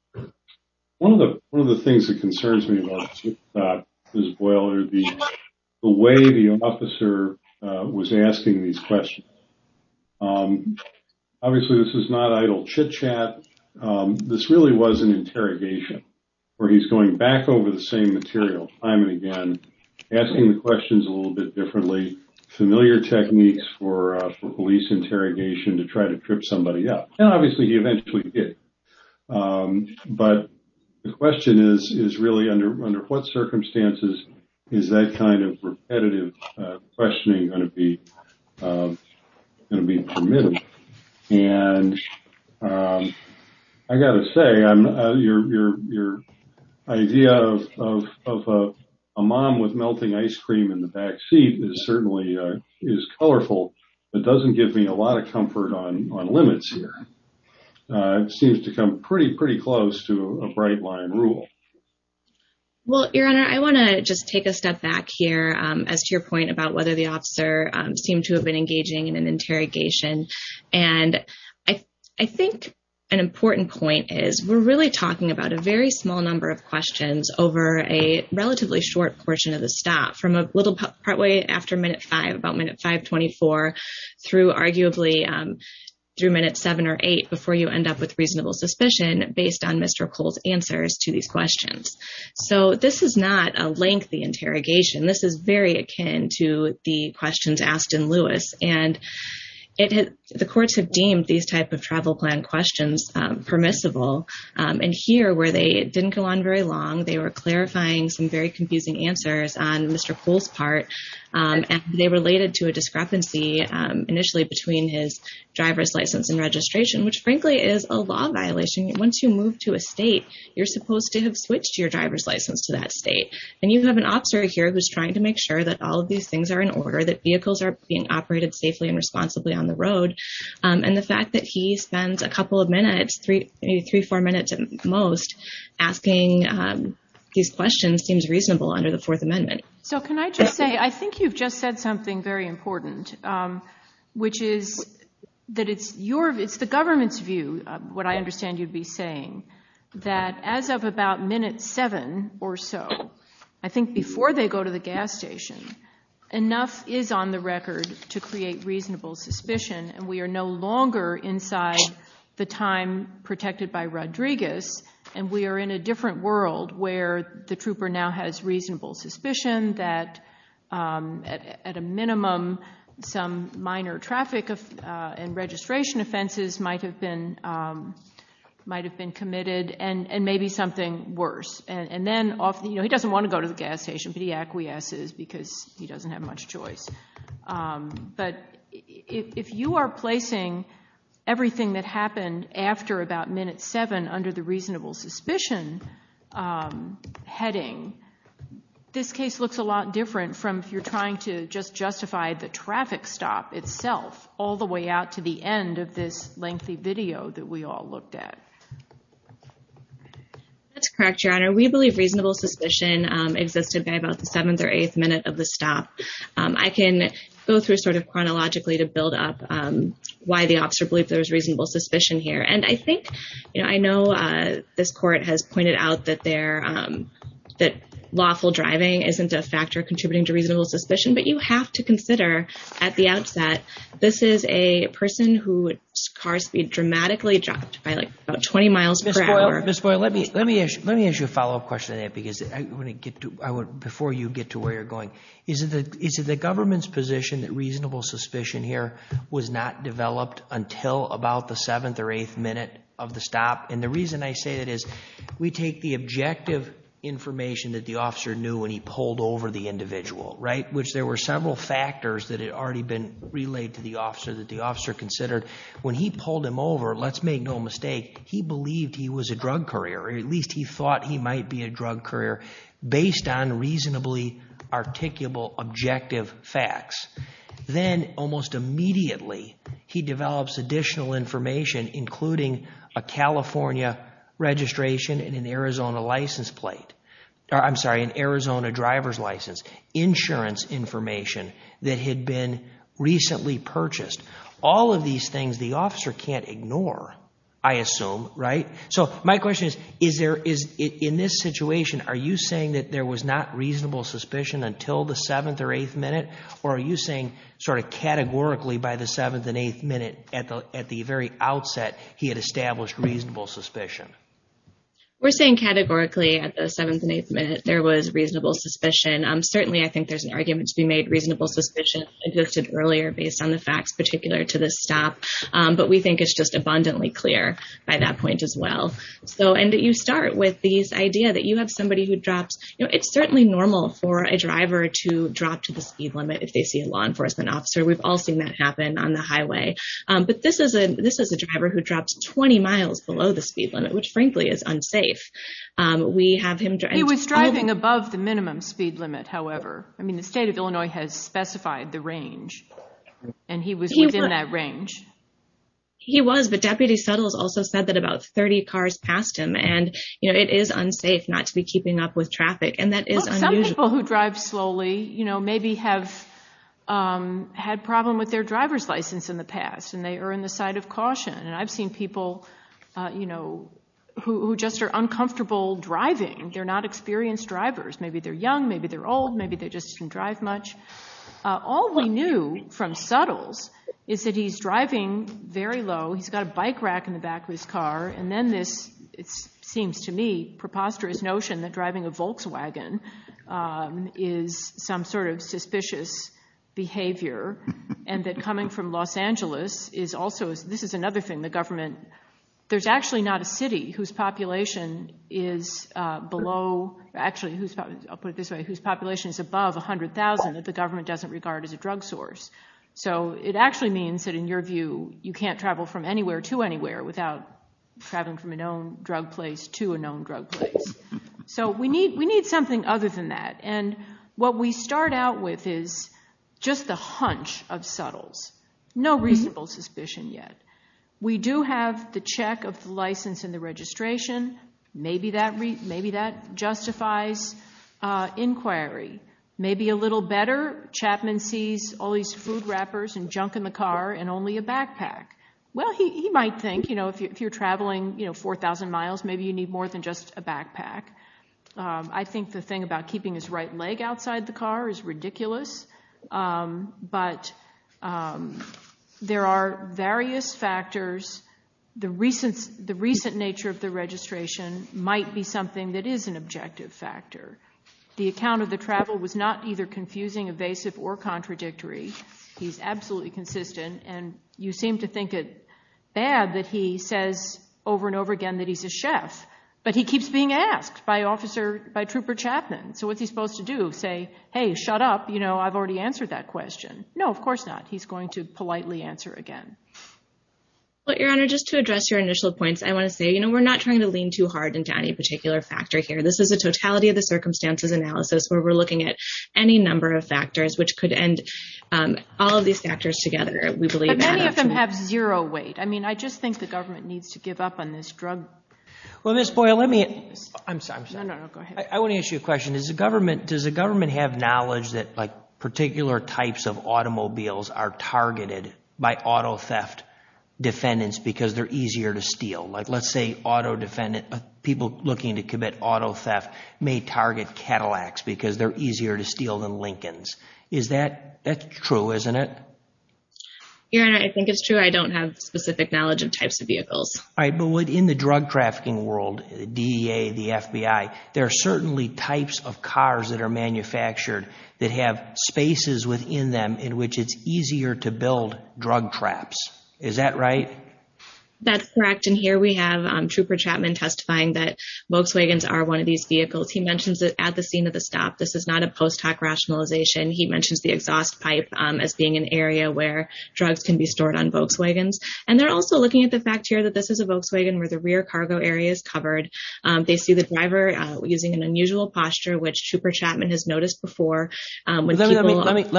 One of the things that concerns me about this Boiler, the way the officer was asking these questions. Obviously, this is not idle chitchat. This really was an interrogation where he's going back over the same material time and again, asking the questions a little bit differently, familiar techniques for police interrogation to try to trip somebody up. And obviously, he eventually did. But the question is really, under what circumstances is that kind of repetitive questioning going to be permitted? And I got to say, your idea of a mom with melting ice cream in the backseat certainly is colorful, but doesn't give me a lot of comfort on limits here. It seems to come pretty, pretty close to a bright line rule. Well, your Honor, I want to just take a step back here as to your point about whether the officer seemed to have been engaging in an interrogation. And I think an important point is we're really talking about a very small number of questions over a relatively short portion of the stop, from a little partway after minute five, about minute 524, through arguably through minute seven or eight before you end up with reasonable suspicion based on Mr. Cole's answers to these questions. So this is not a lengthy interrogation. This is very akin to the questions asked in Lewis. And the courts have very long. They were clarifying some very confusing answers on Mr. Cole's part. And they related to a discrepancy initially between his driver's license and registration, which frankly, is a law violation. Once you move to a state, you're supposed to have switched your driver's license to that state. And you have an officer here who's trying to make sure that all of these things are in order, that vehicles are being operated safely and responsibly on the road. And the fact that he spends a couple of minutes, maybe three, four minutes at most, asking these questions seems reasonable under the Fourth Amendment. So can I just say, I think you've just said something very important, which is that it's the government's view, what I understand you'd be saying, that as of about minute seven or so, I think before they go to the gas station, enough is on the record to create reasonable suspicion. And we are no longer inside the time protected by Rodriguez. And we are in a different world where the trooper now has reasonable suspicion that at a minimum, some minor traffic and registration offenses might have been committed and maybe something worse. And then he doesn't want to go to the gas station, but he acquiesces because he doesn't have much choice. But if you are placing everything that happened after about minute seven under the reasonable suspicion heading, this case looks a lot different from if you're trying to just justify the traffic stop itself all the way out to the end of this lengthy video that we all looked at. That's correct, Your Honor. We believe reasonable suspicion existed by about the seventh or eighth minute of the stop. I can go through sort of chronologically to build up why the officer believed there was reasonable suspicion here. And I think, I know this court has pointed out that lawful driving isn't a factor contributing to reasonable suspicion, but you have to consider at the outset, this is a person whose car speed dramatically dropped by about 20 miles per hour. Ms. Boyle, let me ask you a follow-up question on that before you get to where you're going. Is it the government's position that reasonable suspicion here was not developed until about the seventh or eighth minute of the stop? And the reason I say that is we take the objective information that the officer knew when he pulled over the individual, right? Which there were factors that had already been relayed to the officer that the officer considered. When he pulled him over, let's make no mistake, he believed he was a drug courier or at least he thought he might be a drug courier based on reasonably articulable objective facts. Then almost immediately, he develops additional information including a California registration and an Arizona license plate, I'm sorry, an Arizona driver's license, insurance information that had been recently purchased. All of these things the officer can't ignore, I assume, right? So my question is, in this situation, are you saying that there was not reasonable suspicion until the seventh or eighth minute? Or are you saying sort of categorically by the seventh and eighth minute at the very outset, he had established reasonable suspicion? We're saying categorically at the seventh and eighth minute, there was reasonable suspicion. Certainly, I think there's an argument to be made reasonable suspicion existed earlier based on the facts particular to this stop. But we think it's just abundantly clear by that point as well. And you start with this idea that you have somebody who drops, it's certainly normal for a driver to drop to the speed limit if they see a law enforcement officer. We've all seen that happen on the highway. But this is a driver who drops 20 miles below the speed limit, which frankly is unsafe. We have him... He was driving above the minimum speed limit, however. I mean, the state of Illinois has specified the range. And he was within that range. He was, but Deputy Suttles also said that about 30 cars passed him. And, you know, it is unsafe not to be keeping up with traffic. And that is unusual. Some people who drive slowly, you know, maybe have had problem with their driver's license in the past, and they are in the side of caution. And I've seen people, you know, who just are uncomfortable driving. They're not experienced drivers. Maybe they're young, maybe they're old, maybe they just didn't drive much. All we knew from Suttles is that he's driving very low. He's got a bike rack in the back of his car. And then this, it seems to me, preposterous notion that driving a Volkswagen is some sort of the government... There's actually not a city whose population is below... Actually, I'll put it this way, whose population is above 100,000 that the government doesn't regard as a drug source. So it actually means that, in your view, you can't travel from anywhere to anywhere without traveling from a known drug place to a known drug place. So we need something other than that. And what we start out with is just the hunch of Suttles. No reasonable suspicion yet. We do have the check of the license and the registration. Maybe that justifies inquiry. Maybe a little better. Chapman sees all these food wrappers and junk in the car and only a backpack. Well, he might think, you know, if you're traveling, you know, 4,000 miles, maybe you need more than just a leg outside the car is ridiculous. But there are various factors. The recent nature of the registration might be something that is an objective factor. The account of the travel was not either confusing, evasive, or contradictory. He's absolutely consistent. And you seem to think it bad that he says over and over again that he's a chef. But he keeps being asked by Trooper Chapman. So what's he supposed to do? Say, hey, shut up. You know, I've already answered that question. No, of course not. He's going to politely answer again. Well, Your Honor, just to address your initial points, I want to say, you know, we're not trying to lean too hard into any particular factor here. This is a totality of the circumstances analysis where we're looking at any number of factors which could end all of these factors together. But many of them have zero weight. I mean, I just think the government needs to give up on this drug. Well, Ms. Boyle, I want to ask you a question. Does the government have knowledge that, like, particular types of automobiles are targeted by auto theft defendants because they're easier to steal? Like, let's say people looking to commit auto theft may target Cadillacs because they're easier to steal than Lincolns. That's true, isn't it? Your Honor, I think it's true. I don't have any knowledge of that. But in the drug trafficking world, DEA, the FBI, there are certainly types of cars that are manufactured that have spaces within them in which it's easier to build drug traps. Is that right? That's correct. And here we have Trooper Chapman testifying that Volkswagens are one of these vehicles. He mentions that at the scene of the stop, this is not a post-hoc rationalization. He mentions the exhaust pipe as being an area where drugs can be stored on Volkswagens. And they're also looking at the fact here that this is a cargo area. It's covered. They see the driver using an unusual posture, which Trooper Chapman has noticed before. Let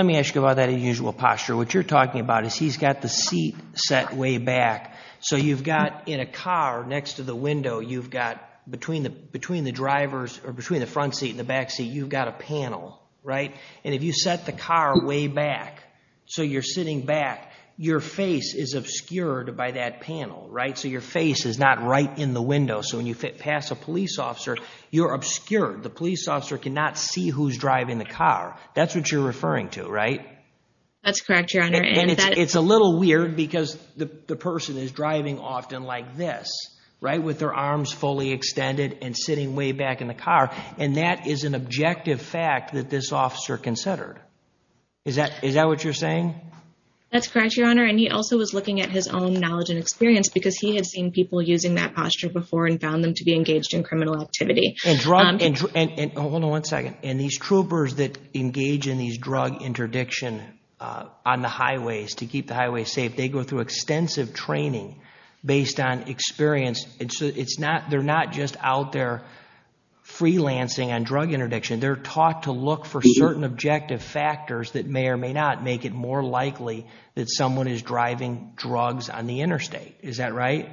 me ask you about that unusual posture. What you're talking about is he's got the seat set way back. So you've got in a car next to the window, you've got between the drivers or between the front seat and the back seat, you've got a panel, right? And if you set the car way back, so you're sitting back, your face is obscured by that panel, right? So your face is not right in the window. So when you pass a police officer, you're obscured. The police officer cannot see who's driving the car. That's what you're referring to, right? That's correct, Your Honor. And it's a little weird because the person is driving often like this, right, with their arms fully extended and sitting way back in the car. And that is an objective fact that this officer considered. Is that what you're saying? That's correct, Your Honor. And he also was looking at his own knowledge and experience because he had seen people using that posture before and found them to be engaged in criminal activity. Hold on one second. And these troopers that engage in these drug interdiction on the highways to keep the highways safe, they go through extensive training based on experience. They're not just out there freelancing on drug interdiction. They're taught to look for certain objective factors that may or may not make it more difficult for them to get to the highway safely. And that's what you're referring to, right?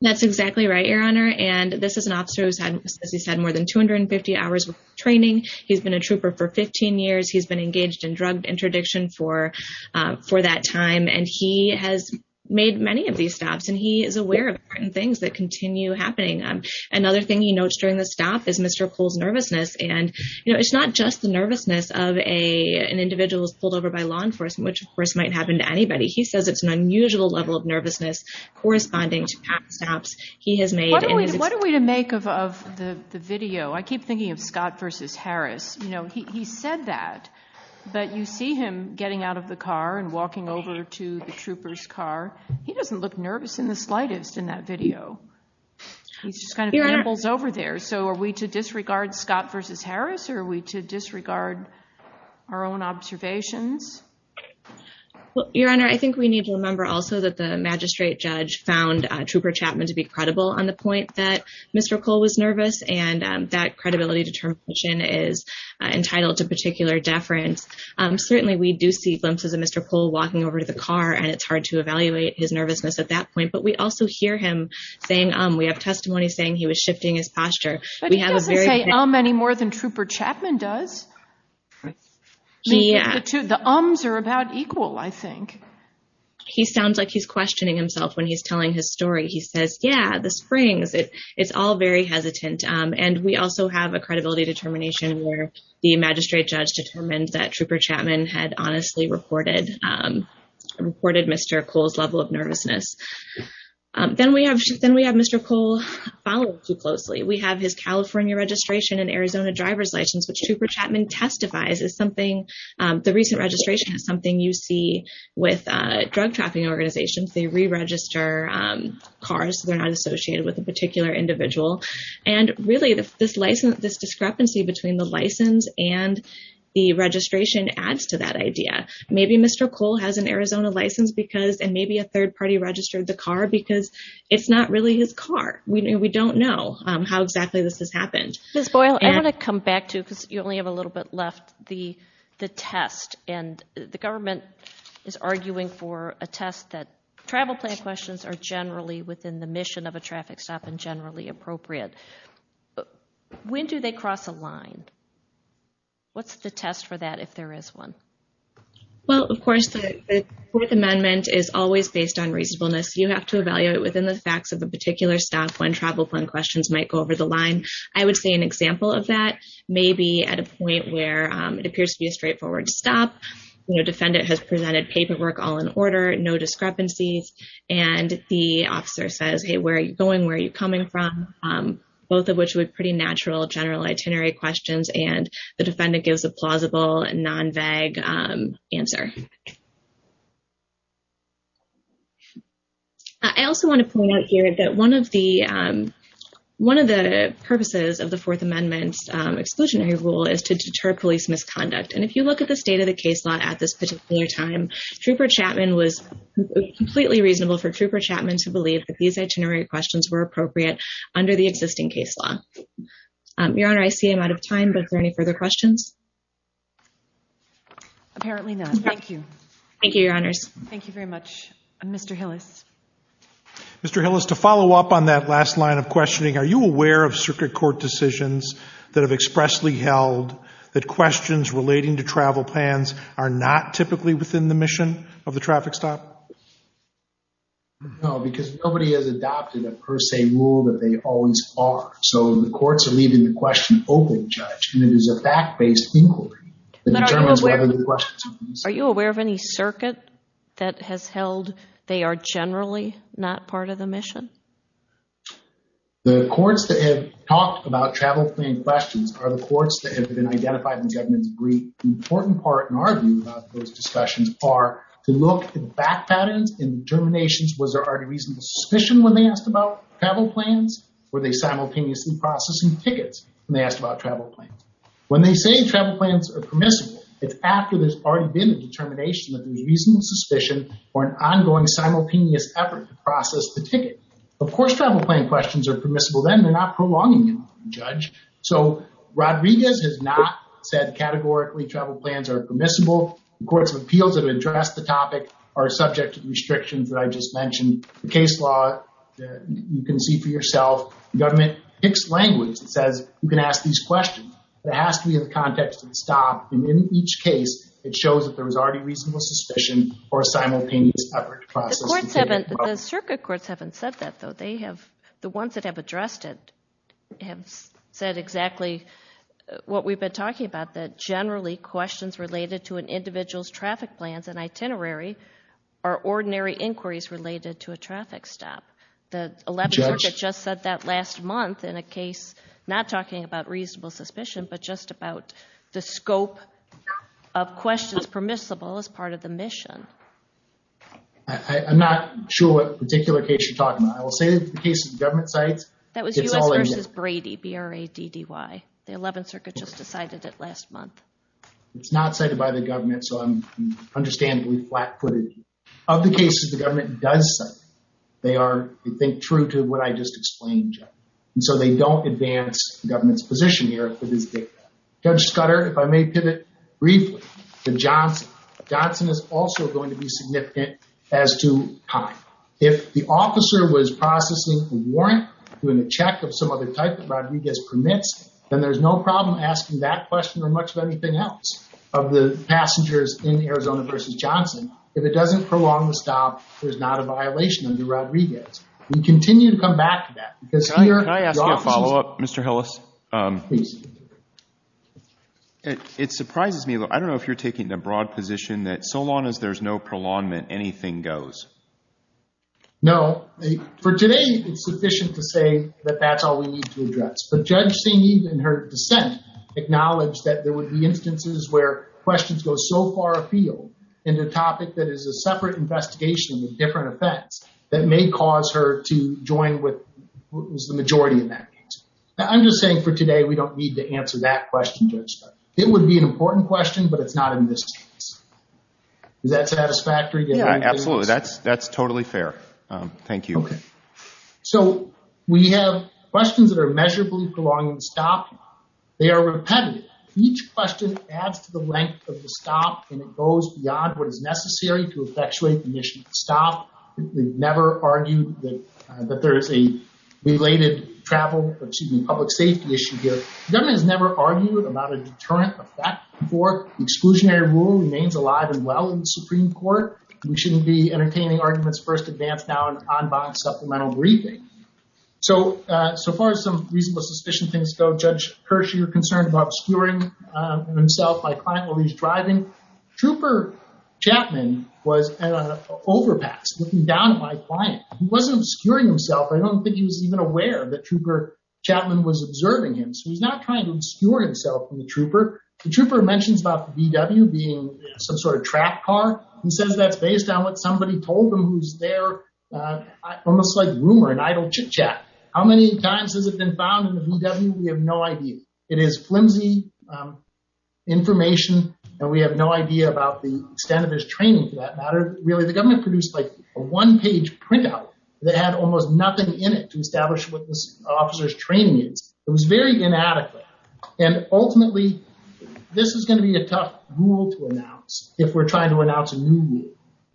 That's correct, Your Honor. And this is an officer who's had, as you said, more than 250 hours of training. He's been a trooper for 15 years. He's been engaged in drug interdiction for that time. And he has made many of these stops. And he is aware of certain things that continue happening. Another thing he notes during the stop is Mr. Poole's nervousness. And, you know, it's not just the nervousness of an individual who's pulled over by law enforcement, which of course might happen to anybody. He says it's an unusual level of nervousness corresponding to past stops he has made. What are we to make of the video? I keep thinking of Scott versus Harris. You know, he said that. But you see him getting out of the car and walking over to the trooper's car. He doesn't look nervous in the slightest in that video. He just kind of pampers over there. So are we to Your Honor, I think we need to remember also that the magistrate judge found Trooper Chapman to be credible on the point that Mr. Poole was nervous. And that credibility determination is entitled to particular deference. Certainly we do see glimpses of Mr. Poole walking over to the car. And it's hard to evaluate his nervousness at that point. But we also hear him saying, we have testimony saying he was shifting his posture. But he doesn't say um any more than Trooper Chapman does. Yeah, the ums are about equal, I think. He sounds like he's questioning himself when he's telling his story. He says, yeah, the springs, it's all very hesitant. And we also have a credibility determination where the magistrate judge determined that Trooper Chapman had honestly reported Mr. Poole's level of nervousness. Then we have Mr. Poole followed too closely. We have his something. The recent registration is something you see with drug trafficking organizations. They re-register cars. They're not associated with a particular individual. And really this license, this discrepancy between the license and the registration adds to that idea. Maybe Mr. Poole has an Arizona license because, and maybe a third party registered the car because it's not really his car. We don't know how exactly this has happened. Ms. Boyle, I want to come back to, because you only have a little bit left, the test. And the government is arguing for a test that travel plan questions are generally within the mission of a traffic stop and generally appropriate. When do they cross a line? What's the test for that if there is one? Well, of course, the Fourth Amendment is always based on reasonableness. You have to evaluate within the facts of a particular stop when travel plan questions might go over the line. I would say an example of that may be at a point where it appears to be a straightforward stop. Defendant has presented paperwork all in order, no discrepancies. And the officer says, hey, where are you going? Where are you coming from? Both of which were pretty natural, general itinerary questions. And the defendant gives a plausible and non-vague answer. I also want to point out here that one of the purposes of the Fourth Amendment's exclusionary rule is to deter police misconduct. And if you look at the state of the case law at this particular time, Trooper Chapman was completely reasonable for Trooper Chapman to believe that these itinerary questions were appropriate under the existing case law. Your Honor, I see I'm out of time, but are there any further questions? Apparently not. Thank you. Thank you, Your Honors. Thank you very much. Mr. Hillis. Mr. Hillis, to follow up on that last line of questioning, are you aware of circuit court decisions that have expressly held that questions relating to travel plans are not typically within the mission of the traffic stop? No, because nobody has adopted a per se rule that they always are. So the courts are leaving the question open, Judge, and it is a fact-based inquiry. But are you aware of any circuit that has held they are generally not part of the mission? The courts that have talked about travel plan questions are the courts that have been identified in the government's brief. The important part in our view about those discussions are to look at back patterns and determinations. Was there already reasonable suspicion when they asked about travel plans? Were they simultaneously processing tickets when they asked about travel plans? When they say travel plans are permissible, it's after there's already been a determination that there's reasonable suspicion or an ongoing simultaneous effort to process the ticket. Of course, travel plan questions are permissible then. They're not prolonging them, Judge. So Rodriguez has not said categorically travel plans are permissible. The courts of appeals that have addressed the topic are subject to the restrictions that I just mentioned. The circuit courts haven't said that though. The ones that have addressed it have said exactly what we've been talking about, that generally questions related to an individual's traffic plans and itinerary are ordinary inquiries related to a traffic stop. The 11th Circuit just said that last month in a case not talking about reasonable suspicion but just about the scope of questions permissible as part of the mission. I'm not sure what particular case you're talking about. I will say the case of government sites. That was U.S. versus Brady, B-R-A-D-D-Y. The 11th Circuit just decided it last month. It's not cited by the government so I'm understandably flat-footed. Of the cases the government does say they are, I think, true to what I just explained, Judge. And so they don't advance the government's position here for this data. Judge Scudder, if I may pivot briefly to Johnson. Johnson is also going to be significant as to time. If the officer was processing a warrant doing a check of some other type that there's no problem asking that question or much of anything else of the passengers in Arizona versus Johnson. If it doesn't prolong the stop, there's not a violation under Rodriguez. We continue to come back to that. Can I ask you a follow-up, Mr. Hillis? It surprises me. I don't know if you're taking the broad position that so long as there's no prolongement, anything goes. No. For today, it's sufficient to say that that's all we need to address. But Judge St. Eve in her dissent acknowledged that there would be instances where questions go so far afield into a topic that is a separate investigation with different effects that may cause her to join with the majority in that case. I'm just saying for today, we don't need to answer that question, Judge. It would be an important question but it's not in this case. Is that satisfactory? Yeah, absolutely. That's totally fair. Thank you. So we have questions that are measurably prolonging the stop. They are repetitive. Each question adds to the length of the stop and it goes beyond what is necessary to effectuate the mission of the stop. We've never argued that there is a related travel or excuse me, public safety issue here. The government has never argued about a deterrent effect before. The exclusionary rule remains alive and well in the Supreme Court. We shouldn't be entertaining arguments first advance now an en banc supplemental briefing. So far, some reasonable suspicion things go. Judge Kirsch, you're concerned about obscuring himself, my client while he's driving. Trooper Chapman was at an overpass looking down at my client. He wasn't obscuring himself. I don't think he was even aware that Trooper Chapman was observing him. So he's not trying to obscure himself from the trooper. The trooper mentions about the VW being some sort of track car. He says that's based on what somebody told him who's there. Almost like rumor and idle chitchat. How many times has it been found in the VW? We have no idea. It is flimsy information and we have no idea about the extent of his training for that matter. Really, the government produced like a one page printout that had almost nothing in it to establish what this officer's training is. It was very inadequate. And ultimately, this is going to be a tough rule to announce if we're going to pass a new rule.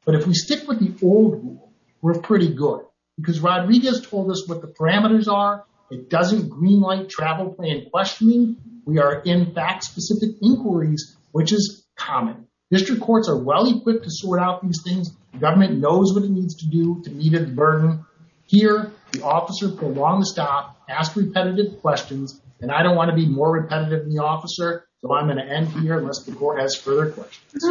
But if we stick with the old rule, we're pretty good. Because Rodriguez told us what the parameters are. It doesn't green light travel plan questioning. We are in fact specific inquiries, which is common. District courts are well equipped to sort out these things. The government knows what it needs to do to meet its burden. Here, the officer pulled on the stop, asked repetitive questions. And I don't want to be more repetitive than the officer. So I'm going to end here unless the court has further questions.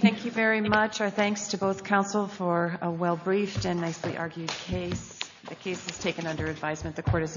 Thank you very much. Our thanks to both counsel for a well briefed and nicely argued case. The case is taken under advisement. The court is in recess.